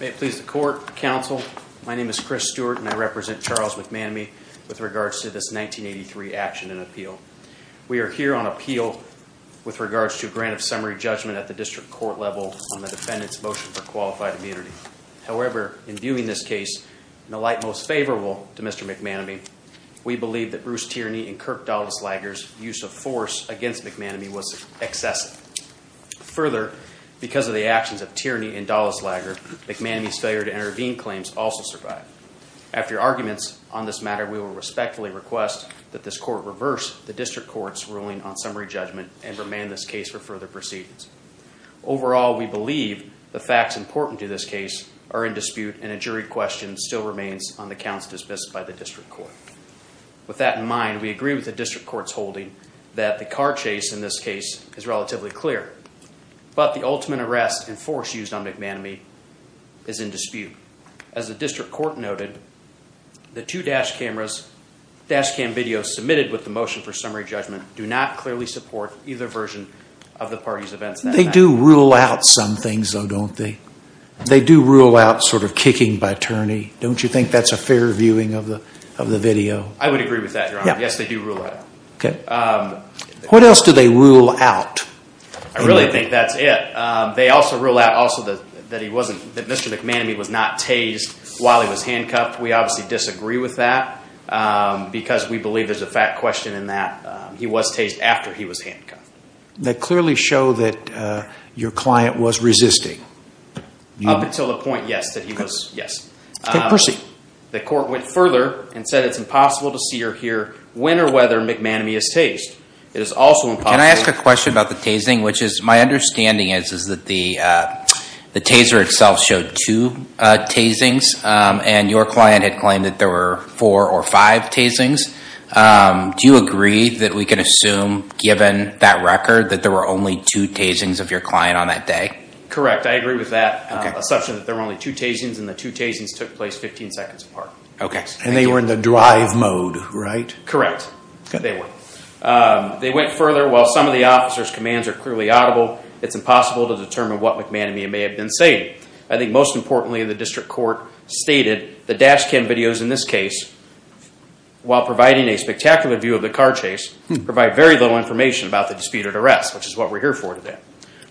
May it please the court, counsel, my name is Chris Stewart and I represent Charles McManemy with regards to this 1983 action and appeal. We are here on appeal with regards to a grant of summary judgment at the district court level on the defendant's motion for qualified immunity. However, in viewing this case in the light most favorable to Mr. McManemy, we believe that Bruce Tierney and Kirk Dollis-Lager's use of force against McManemy was excessive. Further, because of the actions of Tierney and Dollis-Lager, McManemy's failure to intervene claims also survived. After arguments on this matter, we will respectfully request that this court reverse the district court's ruling on summary judgment and remand this case for further proceedings. Overall, we believe the facts important to this case are in dispute and a jury question still remains on the counts dismissed by the district court. With that in mind, we agree with the district court's holding that the car chase in this case is relatively clear, but the ultimate arrest and force used on McManemy is in dispute. As the district court noted, the two dash cam videos submitted with the motion for summary judgment do not clearly support either version of the party's events. They do rule out some things though, don't they? They do rule out sort of kicking by Tierney. Don't you think that's a fair viewing of the video? I would agree with that, Your Honor. Yes, they do rule that out. What else do they rule out? I really think that's it. They also rule out also that Mr. McManemy was not tased while he was handcuffed. We obviously disagree with that because we believe there's a fact question in that he was tased after he was handcuffed. That clearly show that your client was resisting. Up until the point, yes. Okay. Proceed. The court went further and said it's impossible to see or hear when or whether McManemy is tased. It is also impossible... Can I ask a question about the tasing? My understanding is that the taser itself showed two tasings and your client had claimed that there were four or five tasings. Do you agree that we can assume, given that record, that there were only two tasings of your client on that day? Correct. I agree with that assumption that there were only two tasings and the two tasings took place 15 seconds apart. Okay. They were in the drive mode, right? Correct. They were. They went further. While some of the officer's commands are clearly audible, it's impossible to determine what McManemy may have been saying. I think most importantly, the district court stated the dash cam videos in this case, while providing a spectacular view of the car chase, provide very little information about the disputed arrest, which is what we're here for today.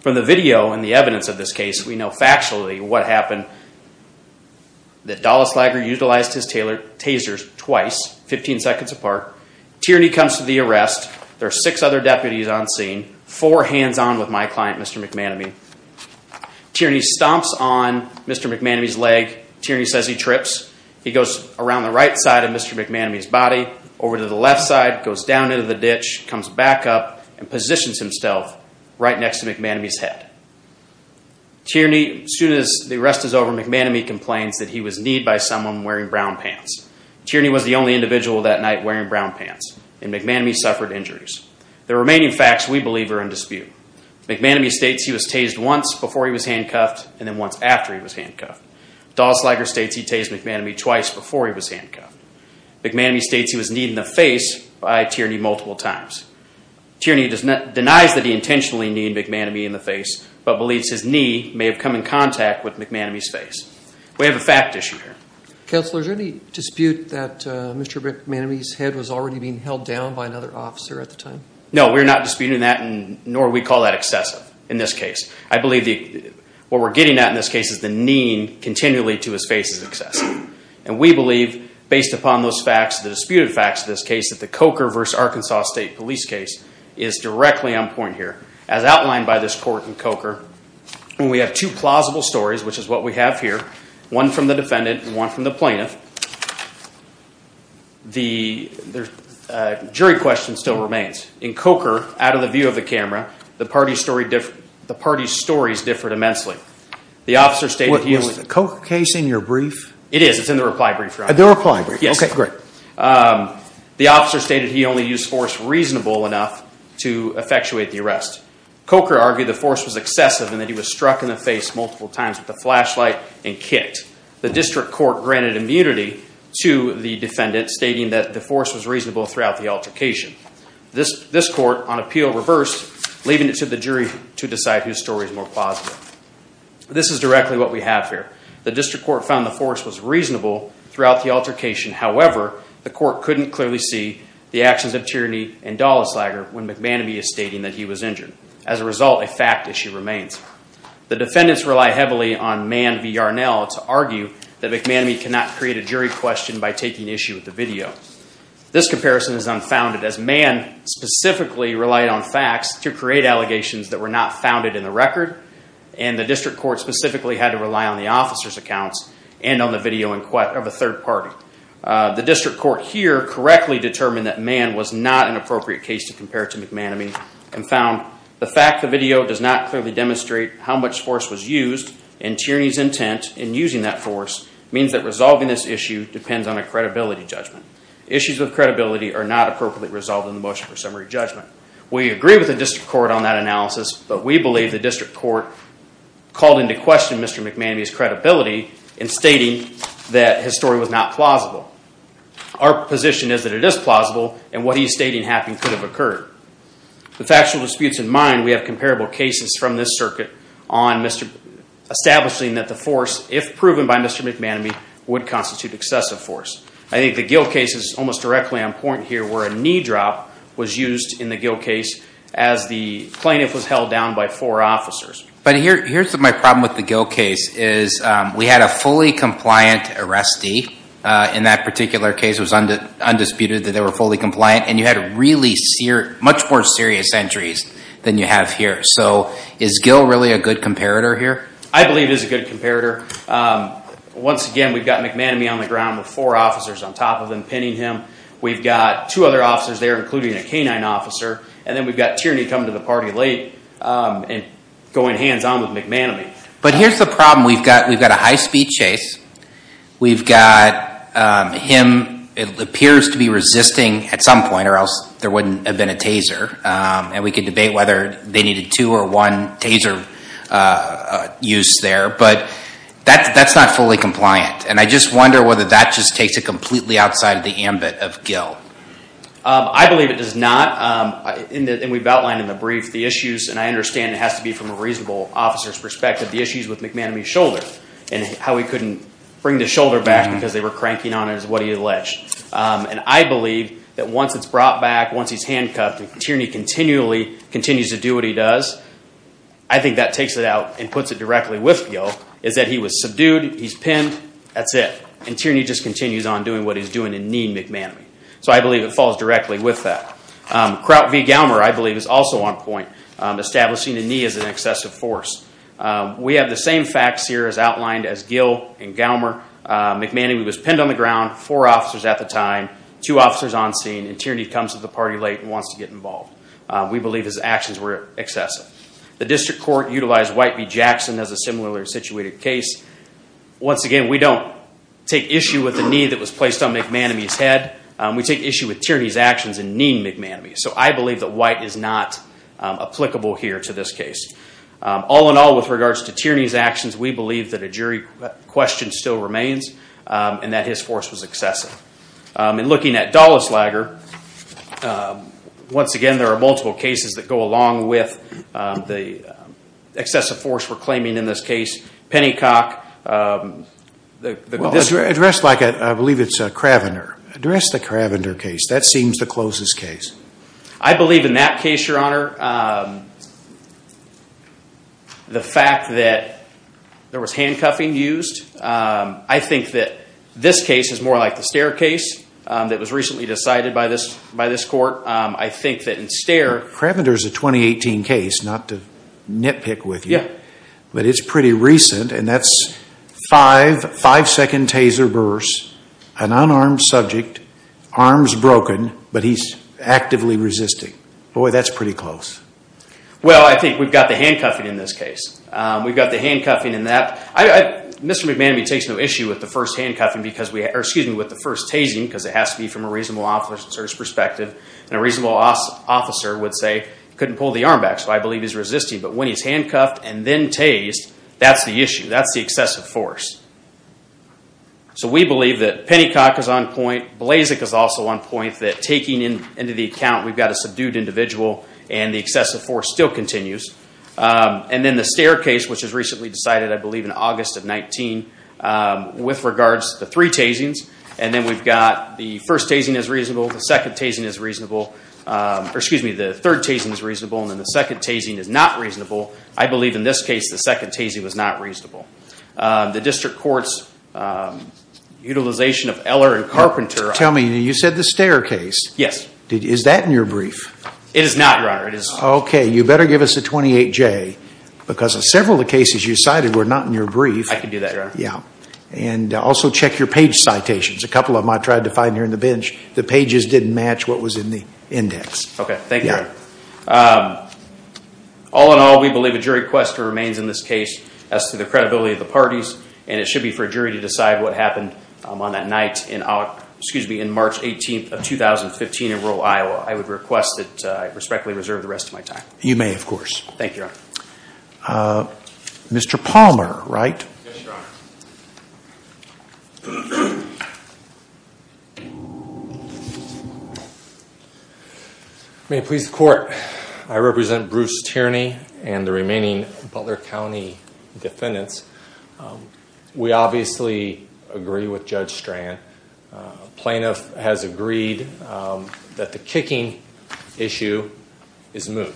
From the video and the evidence of this case, we know factually what happened, that Dallas Lager utilized his tasers twice, 15 seconds apart. Tierney comes to the arrest. There are six other deputies on scene, four hands on with my client, Mr. McManemy. Tierney stomps on Mr. McManemy's leg. Tierney says he trips. He goes around the right side of Mr. McManemy's body, over to the left side, goes down into the ditch, comes back up, and positions himself right next to McManemy's head. Tierney, as soon as the arrest is over, McManemy complains that he was kneed by someone wearing brown pants. Tierney was the only individual that night wearing brown pants, and McManemy suffered injuries. The remaining facts, we believe, are in dispute. McManemy states he was tased once before he was handcuffed, and then once after he was handcuffed. McManemy states he was kneed in the face by Tierney multiple times. Tierney denies that he intentionally kneed McManemy in the face, but believes his knee may have come in contact with McManemy's face. We have a fact issue here. Counselor, is there any dispute that Mr. McManemy's head was already being held down by another officer at the time? No, we're not disputing that, nor we call that excessive in this case. I believe what we're getting at in this case is the kneed continually to his face is excessive, and we believe, based upon those facts, the disputed facts of this case, that the Coker v. Arkansas State Police case is directly on point here. As outlined by this court in Coker, when we have two plausible stories, which is what we have here, one from the defendant, and one from the plaintiff, the jury question still remains. In Coker, out of the view of the camera, the parties' stories differed immensely. The officer stated he was- Was the Coker case in your brief? It is. It's in the reply brief right now. The reply brief? Yes. Okay, great. The officer stated he only used force reasonable enough to effectuate the arrest. Coker argued the force was excessive and that he was struck in the face multiple times with a flashlight and kicked. The district court granted immunity to the defendant, stating that the force was reasonable throughout the altercation. This court, on appeal, reversed, leaving it to the jury to decide whose story is more plausible. This is directly what we have here. The district court found the force was reasonable throughout the altercation. However, the court couldn't clearly see the actions of Tierney and Dollas Lager when McManamy is stating that he was injured. As a result, a fact issue remains. The defendants rely heavily on Mann v. Yarnell to argue that McManamy cannot create a jury question by taking issue with the video. This comparison is unfounded, as Mann specifically relied on facts to create allegations that were not founded in the record and the district court specifically had to rely on the officer's accounts and on the video of a third party. The district court here correctly determined that Mann was not an appropriate case to compare to McManamy and found the fact the video does not clearly demonstrate how much force was used and Tierney's intent in using that force means that resolving this issue depends on a credibility judgment. Issues of credibility are not appropriately resolved in the motion for summary judgment. We agree with the district court on that analysis, but we believe the district court called into question Mr. McManamy's credibility in stating that his story was not plausible. Our position is that it is plausible and what he is stating happened could have occurred. With factual disputes in mind, we have comparable cases from this circuit on establishing that the force, if proven by Mr. McManamy, would constitute excessive force. I think the Gill case is almost directly on point here where a knee drop was used in the Gill case as the plaintiff was held down by four officers. But here's my problem with the Gill case is we had a fully compliant arrestee in that particular case. It was undisputed that they were fully compliant and you had much more serious injuries than you have here. So is Gill really a good comparator here? I believe it is a good comparator. Once again, we've got McManamy on the ground with four officers on top of him pinning him. We've got two other officers there, including a canine officer, and then we've got Tierney coming to the party late and going hands-on with McManamy. But here's the problem. We've got a high-speed chase. We've got him, it appears, to be resisting at some point or else there wouldn't have been a taser and we could debate whether they needed two or one taser use there. But that's not fully compliant. And I just wonder whether that just takes it completely outside of the ambit of Gill. I believe it does not. We've outlined in the brief the issues, and I understand it has to be from a reasonable officer's perspective, the issues with McManamy's shoulder and how he couldn't bring the shoulder back because they were cranking on it as what he alleged. And I believe that once it's brought back, once he's handcuffed and Tierney continues to do what he does, I think that takes it out and puts it directly with Gill, is that he was subdued, he's pinned, that's it. And Tierney just continues on doing what he's doing and kneeing McManamy. So I believe it falls directly with that. Kraut v. Gallmer, I believe, is also on point, establishing a knee as an excessive force. We have the same facts here as outlined as Gill and Gallmer. McManamy was pinned on the ground, four officers at the time, two officers on scene, and Tierney comes to the party late and wants to get involved. We believe his actions were excessive. The district court utilized White v. Jackson as a similarly situated case. Once again, we don't take issue with the knee that was placed on McManamy's head. We take issue with Tierney's actions and kneeing McManamy. So I believe that White is not applicable here to this case. All in all, with regards to Tierney's actions, we believe that a jury question still remains and that his force was excessive. In looking at Dallas-Lager, once again, there are multiple cases that go along with the excessive force we're claiming in this case. Pennycock... Well, addressed like a, I believe it's a Cravener. Address the Cravener case. That seems the closest case. I believe in that case, Your Honor, the fact that there was handcuffing used, I think that this case is more like the Stare case that was recently decided by this court. I think that in Stare... Cravener is a 2018 case, not to nitpick with you. Yeah. But it's pretty recent, and that's five second taser bursts, an unarmed subject, arms broken, but he's actively resisting. Boy, that's pretty close. Well, I think we've got the handcuffing in this case. We've got the handcuffing in that. Mr. McManamy takes no issue with the first tasing, because it has to be from a reasonable officer's perspective, and a reasonable officer would say, couldn't pull the arm back, so I believe he's resisting. But when he's handcuffed and then tased, that's the issue. That's the excessive force. So we believe that Pennycock is on point, Blazek is also on point, that taking into the account we've got a subdued individual and the excessive force still continues. And then the Stare case, which was recently decided, I believe in August of 19, with regards to three tasings, and then we've got the first tasing is reasonable, the second tasing is reasonable, or excuse me, the third tasing is reasonable, and then the second tasing is not reasonable. I believe in this case, the second tasing was not reasonable. The district court's utilization of Eller and Carpenter... Tell me, you said the Stare case. Yes. Is that in your brief? It is not, Your Honor. It is not. Okay, you better give us a 28-J, because several of the cases you cited were not in your brief. I can do that, Your Honor. Yeah. And also check your page citations, a couple of them I tried to find here on the bench. The pages didn't match what was in the index. Okay, thank you. Yeah. All in all, we believe a jury request remains in this case as to the credibility of the parties, and it should be for a jury to decide what happened on that night, excuse me, in March 18 of 2015 in rural Iowa. So, I would request that I respectfully reserve the rest of my time. You may, of course. Thank you, Your Honor. Mr. Palmer, right? Yes, Your Honor. May it please the Court, I represent Bruce Tierney and the remaining Butler County defendants. We obviously agree with Judge Strand. Plaintiff has agreed that the kicking issue is moot.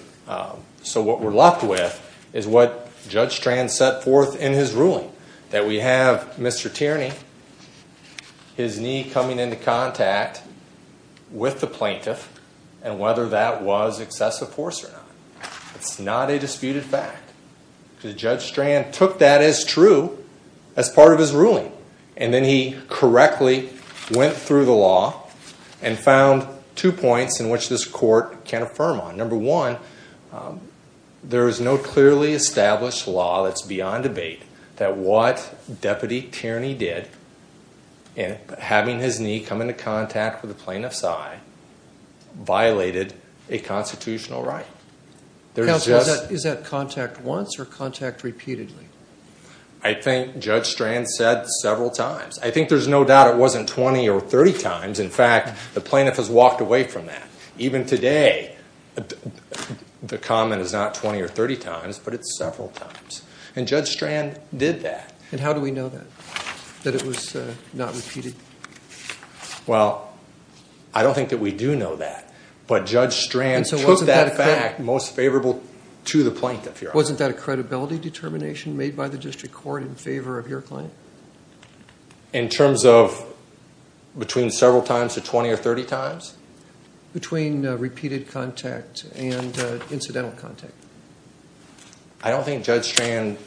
So what we're left with is what Judge Strand set forth in his ruling, that we have Mr. Tierney, his knee coming into contact with the plaintiff, and whether that was excessive force or not. It's not a disputed fact, because Judge Strand took that as true as part of his ruling, and then he correctly went through the law and found two points in which this Court can affirm on. Number one, there is no clearly established law that's beyond debate that what Deputy Tierney did in having his knee come into contact with the plaintiff's eye violated a constitutional right. Counsel, is that contact once or contact repeatedly? I think Judge Strand said several times. I think there's no doubt it wasn't 20 or 30 times. In fact, the plaintiff has walked away from that. Even today, the comment is not 20 or 30 times, but it's several times. And Judge Strand did that. And how do we know that, that it was not repeated? Well, I don't think that we do know that, but Judge Strand took that fact most favorable to the plaintiff, Your Honor. Wasn't that a credibility determination made by the District Court in favor of your claim? In terms of between several times to 20 or 30 times? Between repeated contact and incidental contact. I don't think Judge Strand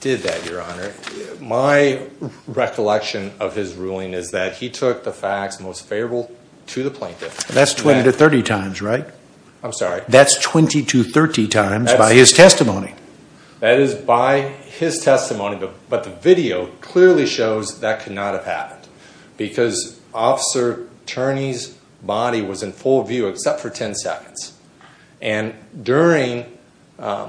did that, Your Honor. My recollection of his ruling is that he took the facts most favorable to the plaintiff. That's 20 to 30 times, right? I'm sorry. That's 20 to 30 times by his testimony. That is by his testimony, but the video clearly shows that could not have happened. Because Officer Turney's body was in full view except for 10 seconds. And during the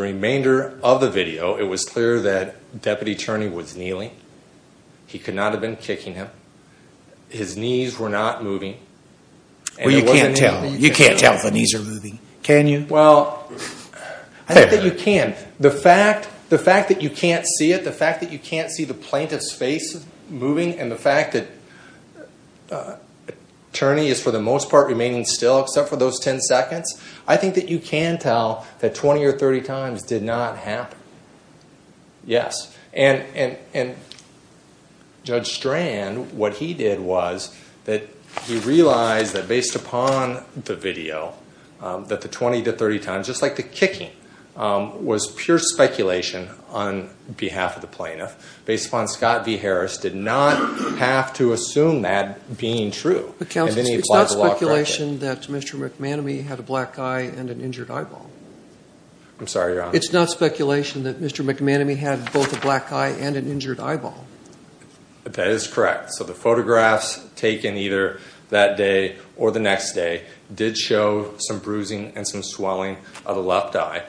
remainder of the video, it was clear that Deputy Turney was kneeling. He could not have been kicking him. His knees were not moving. Well, you can't tell. You can't tell if the knees are moving. Can you? Well, I think that you can. The fact that you can't see it, the fact that you can't see the plaintiff's face moving, and the fact that Turney is for the most part remaining still except for those 10 seconds, I think that you can tell that 20 or 30 times did not happen. Yes. And Judge Strand, what he did was that he realized that based upon the video, that the 20 to 30 times, just like the kicking, was pure speculation on behalf of the plaintiff. Based upon Scott v. Harris, did not have to assume that being true. Counsel, it's not speculation that Mr. McManamy had a black eye and an injured eyeball. I'm sorry, Your Honor. It's not speculation that Mr. McManamy had both a black eye and an injured eyeball. That is correct. So the photographs taken either that day or the next day did show some bruising and some swelling of the left eye.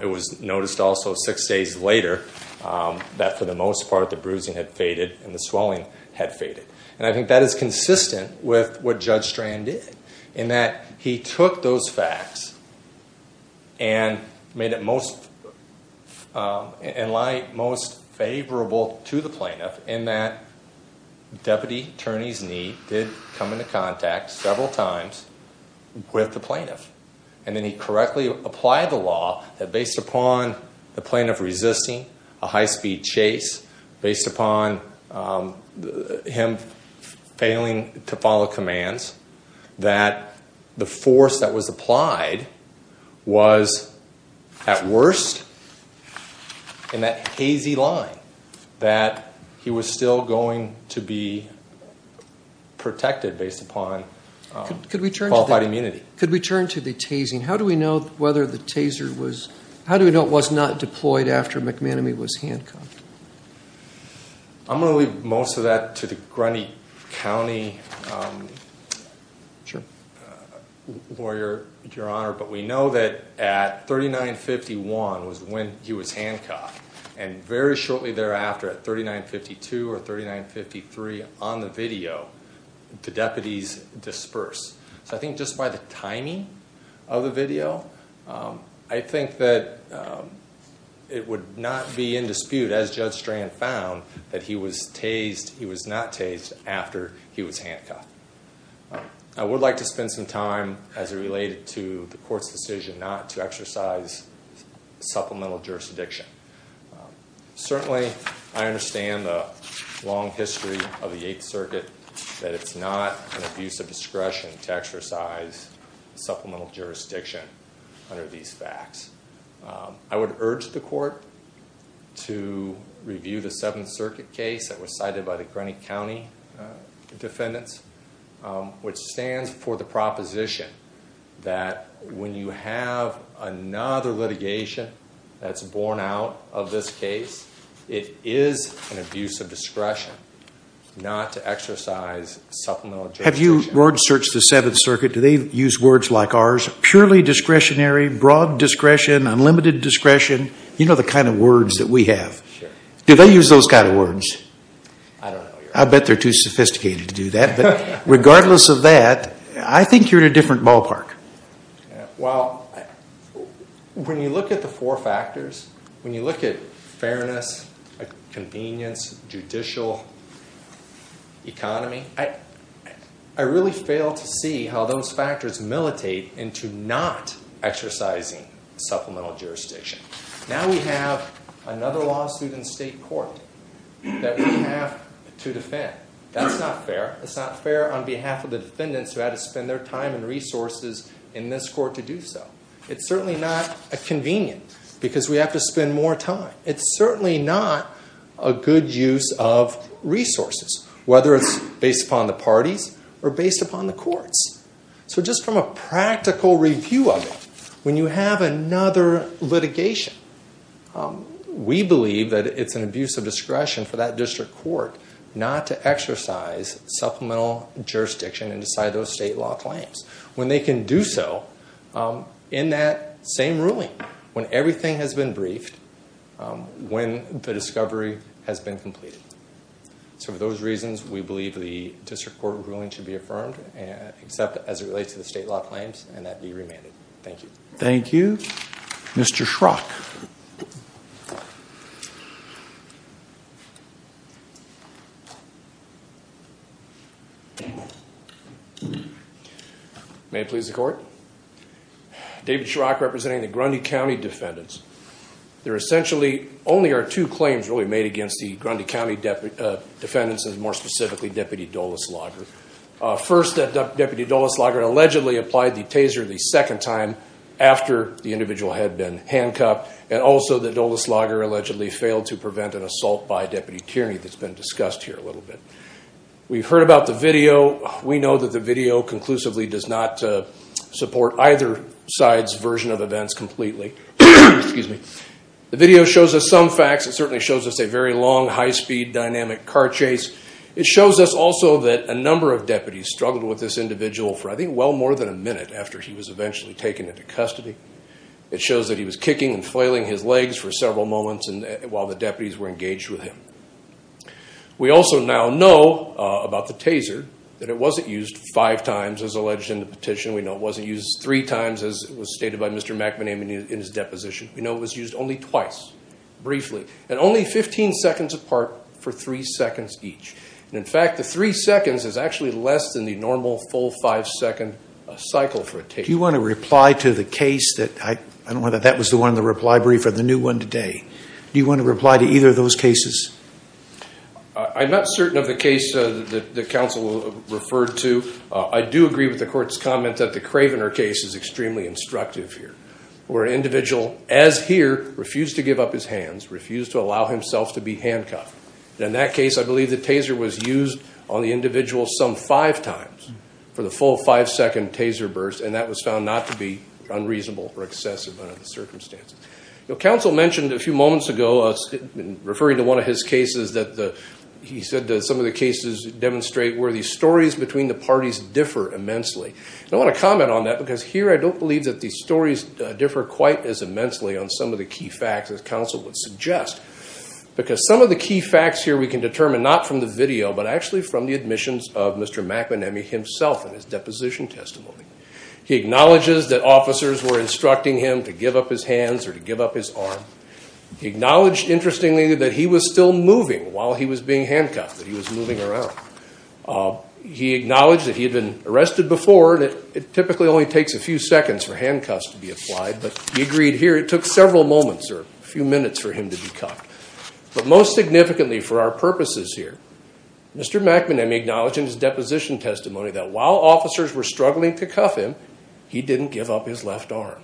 It was noticed also six days later that for the most part the bruising had faded and the swelling had faded. And I think that is consistent with what Judge Strand did, in that he took those facts and made it most favorable to the plaintiff in that the deputy attorney's knee did come into contact several times with the plaintiff. And then he correctly applied the law that based upon the plaintiff resisting a high speed chase, based upon him failing to follow commands, that the force that was applied was at worst in that hazy line that he was still going to be protected based upon qualified immunity. Could we turn to the tasing? How do we know whether the taser was, how do we know it was not deployed after McManamy was handcuffed? I'm going to leave most of that to the Grundy County lawyer, Your Honor. But we know that at 3951 was when he was handcuffed and very shortly thereafter at 3952 or 3953 on the video, the deputies disperse. So I think just by the timing of the video, I think that it would not be in dispute as Judge Strand found that he was tased, he was not tased after he was handcuffed. I would like to spend some time as it related to the court's decision not to exercise supplemental jurisdiction. Certainly, I understand the long history of the Eighth Circuit, that it's not an abuse of discretion to exercise supplemental jurisdiction under these facts. I would urge the court to review the Seventh Circuit case that was cited by the Grundy County defendants, which stands for the proposition that when you have another litigation that's borne out of this case, it is an abuse of discretion not to exercise supplemental jurisdiction. Have you, Lord, searched the Seventh Circuit? Do they use words like ours, purely discretionary, broad discretion, unlimited discretion? You know the kind of words that we have. Do they use those kind of words? I don't know, Your Honor. I bet they're too sophisticated to do that. But regardless of that, I think you're in a different ballpark. Well, when you look at the four factors, when you look at fairness, convenience, judicial economy, I really fail to see how those factors militate into not exercising supplemental jurisdiction. Now we have another lawsuit in state court that we have to defend. That's not fair. It's not fair on behalf of the defendants who had to spend their time and resources in this court to do so. It's certainly not convenient because we have to spend more time. It's certainly not a good use of resources, whether it's based upon the parties or based upon the courts. So just from a practical review of it, when you have another litigation, we believe that it's an abuse of discretion for that district court not to exercise supplemental jurisdiction and decide those state law claims, when they can do so in that same ruling, when everything has been briefed, when the discovery has been completed. So for those reasons, we believe the district court ruling should be affirmed, except as it relates to the state law claims, and that be remanded. Thank you. Thank you. Mr. Schrock. May it please the court? David Schrock representing the Grundy County Defendants. There essentially only are two claims really made against the Grundy County Defendants and more specifically Deputy Dulles-Lager. First Deputy Dulles-Lager allegedly applied the taser the second time after the individual had been handcuffed, and also that Dulles-Lager allegedly failed to prevent an assault by Deputy Tierney that's been discussed here a little bit. We've heard about the video. We know that the video conclusively does not support either side's version of events completely. The video shows us some facts. It certainly shows us a very long, high-speed, dynamic car chase. It shows us also that a number of deputies struggled with this individual for I think well more than a minute after he was eventually taken into custody. It shows that he was kicking and flailing his legs for several moments while the deputies were engaged with him. We also now know about the taser that it wasn't used five times as alleged in the petition. We know it wasn't used three times as was stated by Mr. McManamin in his deposition. We know it was used only twice, briefly, and only 15 seconds apart for three seconds each. And in fact, the three seconds is actually less than the normal full five-second cycle for a taser. Do you want to reply to the case that, I don't know whether that was the one in the reply brief or the new one today, do you want to reply to either of those cases? I'm not certain of the case that the counsel referred to. I do agree with the court's comment that the Cravener case is extremely instructive here where an individual, as here, refused to give up his hands, refused to allow himself to be handcuffed. In that case, I believe the taser was used on the individual some five times for the full five-second taser burst, and that was found not to be unreasonable or excessive under the circumstances. Counsel mentioned a few moments ago, referring to one of his cases, that he said that some of the cases demonstrate where the stories between the parties differ immensely. I want to comment on that because here I don't believe that the stories differ quite as immensely on some of the key facts as counsel would suggest. Because some of the key facts here we can determine not from the video, but actually from the admissions of Mr. McManamy himself and his deposition testimony. He acknowledges that officers were instructing him to give up his hands or to give up his arm. He acknowledged, interestingly, that he was still moving while he was being handcuffed, that he was moving around. He acknowledged that he had been arrested before, and it typically only takes a few seconds for handcuffs to be applied, but he agreed here it took several moments or a few minutes for him to be cuffed. But most significantly for our purposes here, Mr. McManamy acknowledged in his deposition testimony that while officers were struggling to cuff him, he didn't give up his left arm.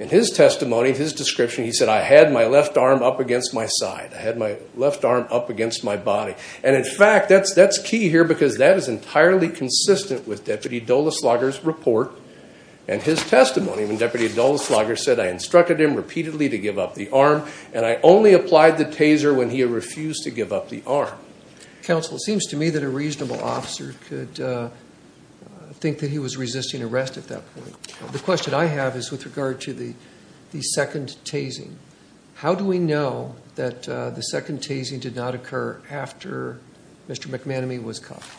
In his testimony, in his description, he said, I had my left arm up against my side, I had my left arm up against my body. And in fact, that's key here because that is entirely consistent with Deputy Doleslager's report and his testimony when Deputy Doleslager said, I instructed him repeatedly to give up the arm, and I only applied the taser when he refused to give up the arm. Counsel, it seems to me that a reasonable officer could think that he was resisting arrest at that point. The question I have is with regard to the second tasing. How do we know that the second tasing did not occur after Mr. McManamy was cuffed?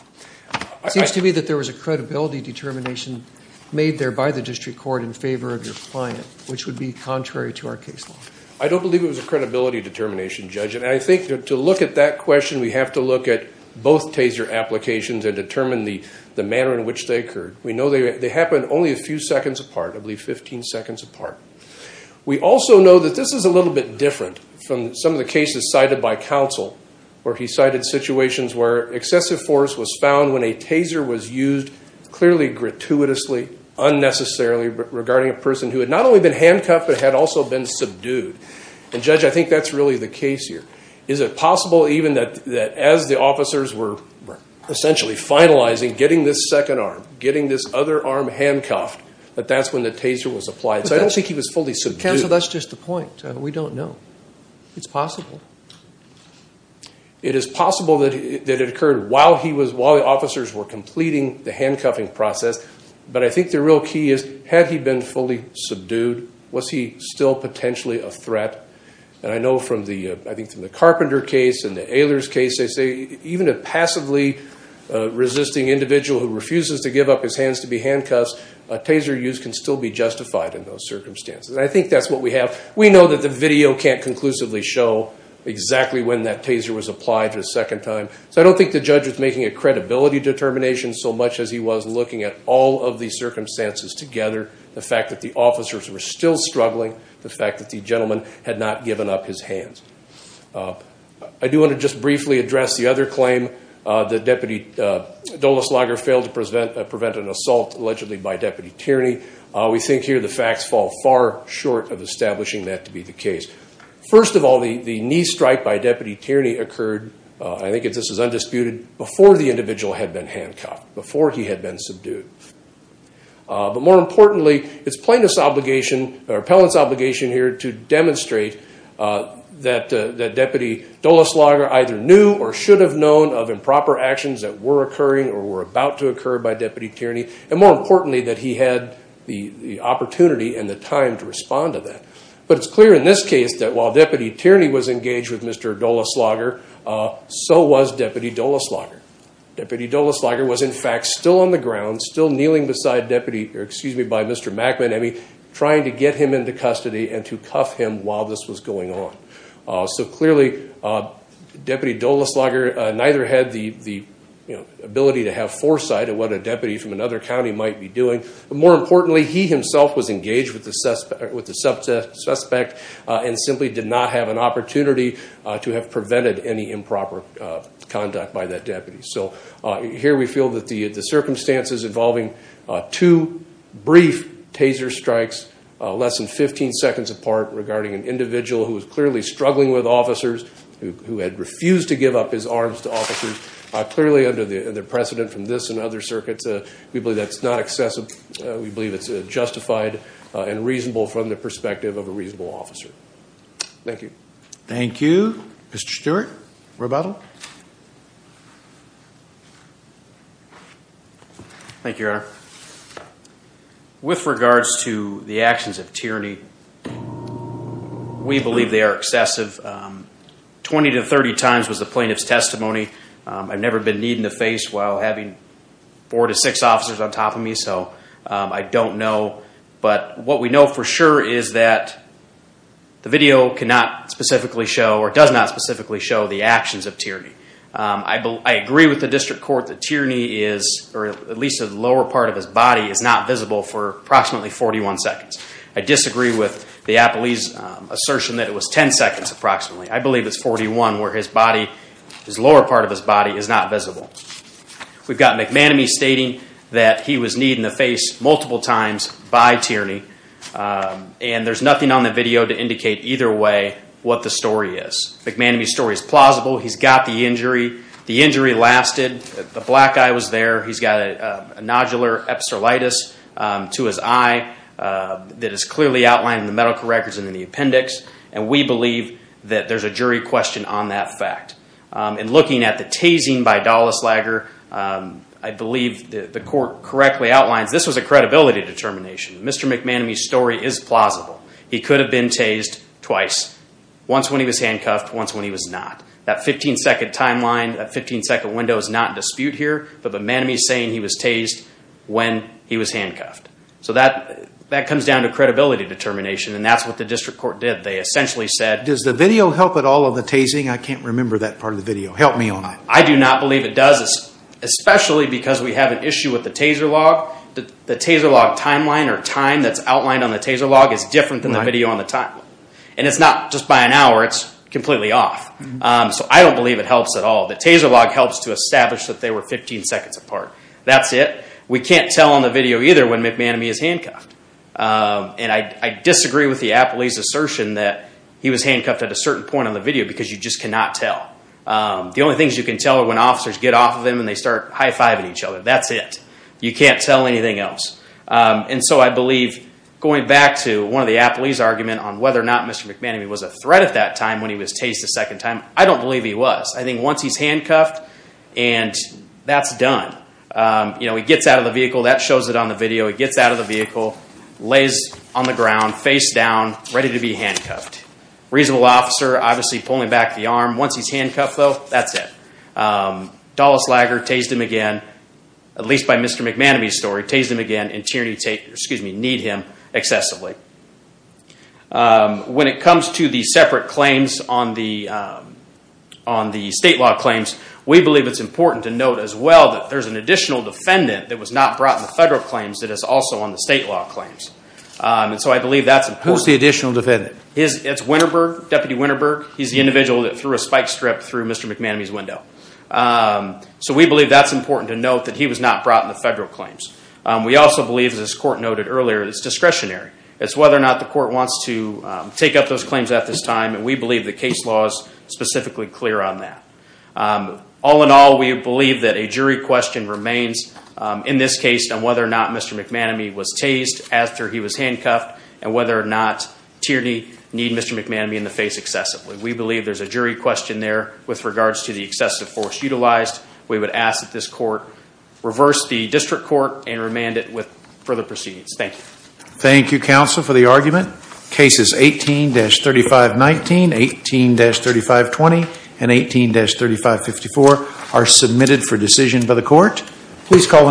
It seems to me that there was a credibility determination made there by the district court in favor of your client, which would be contrary to our case law. I don't believe it was a credibility determination, Judge, and I think to look at that question, we have to look at both taser applications and determine the manner in which they occurred. We know they happened only a few seconds apart, I believe 15 seconds apart. We also know that this is a little bit different from some of the cases cited by counsel where he cited situations where excessive force was found when a taser was used clearly gratuitously, unnecessarily regarding a person who had not only been handcuffed but had also been subdued. And Judge, I think that's really the case here. Is it possible even that as the officers were essentially finalizing getting this second arm, getting this other arm handcuffed, that that's when the taser was applied? So I don't think he was fully subdued. Counsel, that's just the point. We don't know. It's possible. It is possible that it occurred while the officers were completing the handcuffing process, but I think the real key is, had he been fully subdued, was he still potentially a threat? And I know from the, I think from the Carpenter case and the Ehlers case, they say even a passively resisting individual who refuses to give up his hands to be handcuffed, a taser used can still be justified in those circumstances. I think that's what we have. We know that the video can't conclusively show exactly when that taser was applied the second time. So I don't think the judge was making a credibility determination so much as he was looking at all of the circumstances together. The fact that the officers were still struggling, the fact that the gentleman had not given up his hands. I do want to just briefly address the other claim that Deputy Dulles-Lager failed to prevent an assault allegedly by Deputy Tierney. We think here the facts fall far short of establishing that to be the case. First of all, the knee strike by Deputy Tierney occurred, I think this is undisputed, before the individual had been handcuffed, before he had been subdued. But more importantly, it's plaintiff's obligation, or appellant's obligation here to demonstrate that Deputy Dulles-Lager either knew or should have known of improper actions that were occurring or were about to occur by Deputy Tierney. And more importantly, that he had the opportunity and the time to respond to that. But it's clear in this case that while Deputy Tierney was engaged with Mr. Dulles-Lager, so was Deputy Dulles-Lager. Deputy Dulles-Lager was in fact still on the ground, still kneeling beside Deputy, or excuse me, by Mr. McManamy, trying to get him into custody and to cuff him while this was going on. So clearly, Deputy Dulles-Lager neither had the ability to have foresight of what a deputy from another county might be doing. But more importantly, he himself was engaged with the suspect and simply did not have an any improper conduct by that deputy. So here we feel that the circumstances involving two brief taser strikes less than 15 seconds apart regarding an individual who was clearly struggling with officers, who had refused to give up his arms to officers, clearly under the precedent from this and other circuits, we believe that's not excessive. We believe it's justified and reasonable from the perspective of a reasonable officer. Thank you. Thank you. Thank you. Mr. Stewart, rebuttal. Thank you, Your Honor. With regards to the actions of tyranny, we believe they are excessive. 20 to 30 times was the plaintiff's testimony. I've never been kneed in the face while having four to six officers on top of me, so I don't know. What we know for sure is that the video cannot specifically show or does not specifically show the actions of tyranny. I agree with the district court that tyranny is, or at least the lower part of his body is not visible for approximately 41 seconds. I disagree with the apoli's assertion that it was 10 seconds approximately. I believe it's 41 where his body, his lower part of his body is not visible. We've got McManamy stating that he was kneed in the face multiple times by tyranny, and there's nothing on the video to indicate either way what the story is. McManamy's story is plausible. He's got the injury. The injury lasted. The black eye was there. He's got a nodular epistolitis to his eye that is clearly outlined in the medical records and in the appendix, and we believe that there's a jury question on that fact. In looking at the tasing by Dallas Lager, I believe the court correctly outlines this was a credibility determination. Mr. McManamy's story is plausible. He could have been tased twice. Once when he was handcuffed, once when he was not. That 15 second timeline, that 15 second window is not in dispute here, but McManamy's saying he was tased when he was handcuffed. So that comes down to credibility determination, and that's what the district court did. They essentially said- Does the video help at all on the tasing? I can't remember that part of the video. Help me on that. I do not believe it does, especially because we have an issue with the taser log. The taser log timeline or time that's outlined on the taser log is different than the video on the timeline, and it's not just by an hour. It's completely off, so I don't believe it helps at all. The taser log helps to establish that they were 15 seconds apart. That's it. We can't tell on the video either when McManamy is handcuffed, and I disagree with the appellee's certain point on the video because you just cannot tell. The only things you can tell are when officers get off of him and they start high-fiving each other. That's it. You can't tell anything else. And so I believe, going back to one of the appellee's argument on whether or not Mr. McManamy was a threat at that time when he was tased a second time, I don't believe he was. I think once he's handcuffed, and that's done. He gets out of the vehicle. That shows it on the video. He gets out of the vehicle, lays on the ground, face down, ready to be handcuffed. Reasonable officer, obviously, pulling back the arm. Once he's handcuffed, though, that's it. Dulles Lager tased him again, at least by Mr. McManamy's story, tased him again in tyranny to need him excessively. When it comes to the separate claims on the state law claims, we believe it's important to note as well that there's an additional defendant that was not brought in the federal claims that is also on the state law claims. So I believe that's important. Who's the additional defendant? It's Winterberg, Deputy Winterberg. He's the individual that threw a spike strip through Mr. McManamy's window. So we believe that's important to note that he was not brought in the federal claims. We also believe, as this court noted earlier, it's discretionary. It's whether or not the court wants to take up those claims at this time, and we believe the case law is specifically clear on that. All in all, we believe that a jury question remains in this case on whether or not Mr. McManamy was tased after he was handcuffed, and whether or not tyranny need Mr. McManamy in the face excessively. We believe there's a jury question there with regards to the excessive force utilized. We would ask that this court reverse the district court and remand it with further proceedings. Thank you. Thank you, counsel, for the argument. Cases 18-3519, 18-3520, and 18-3554 are submitted for decision by the court. Please call and ask questions.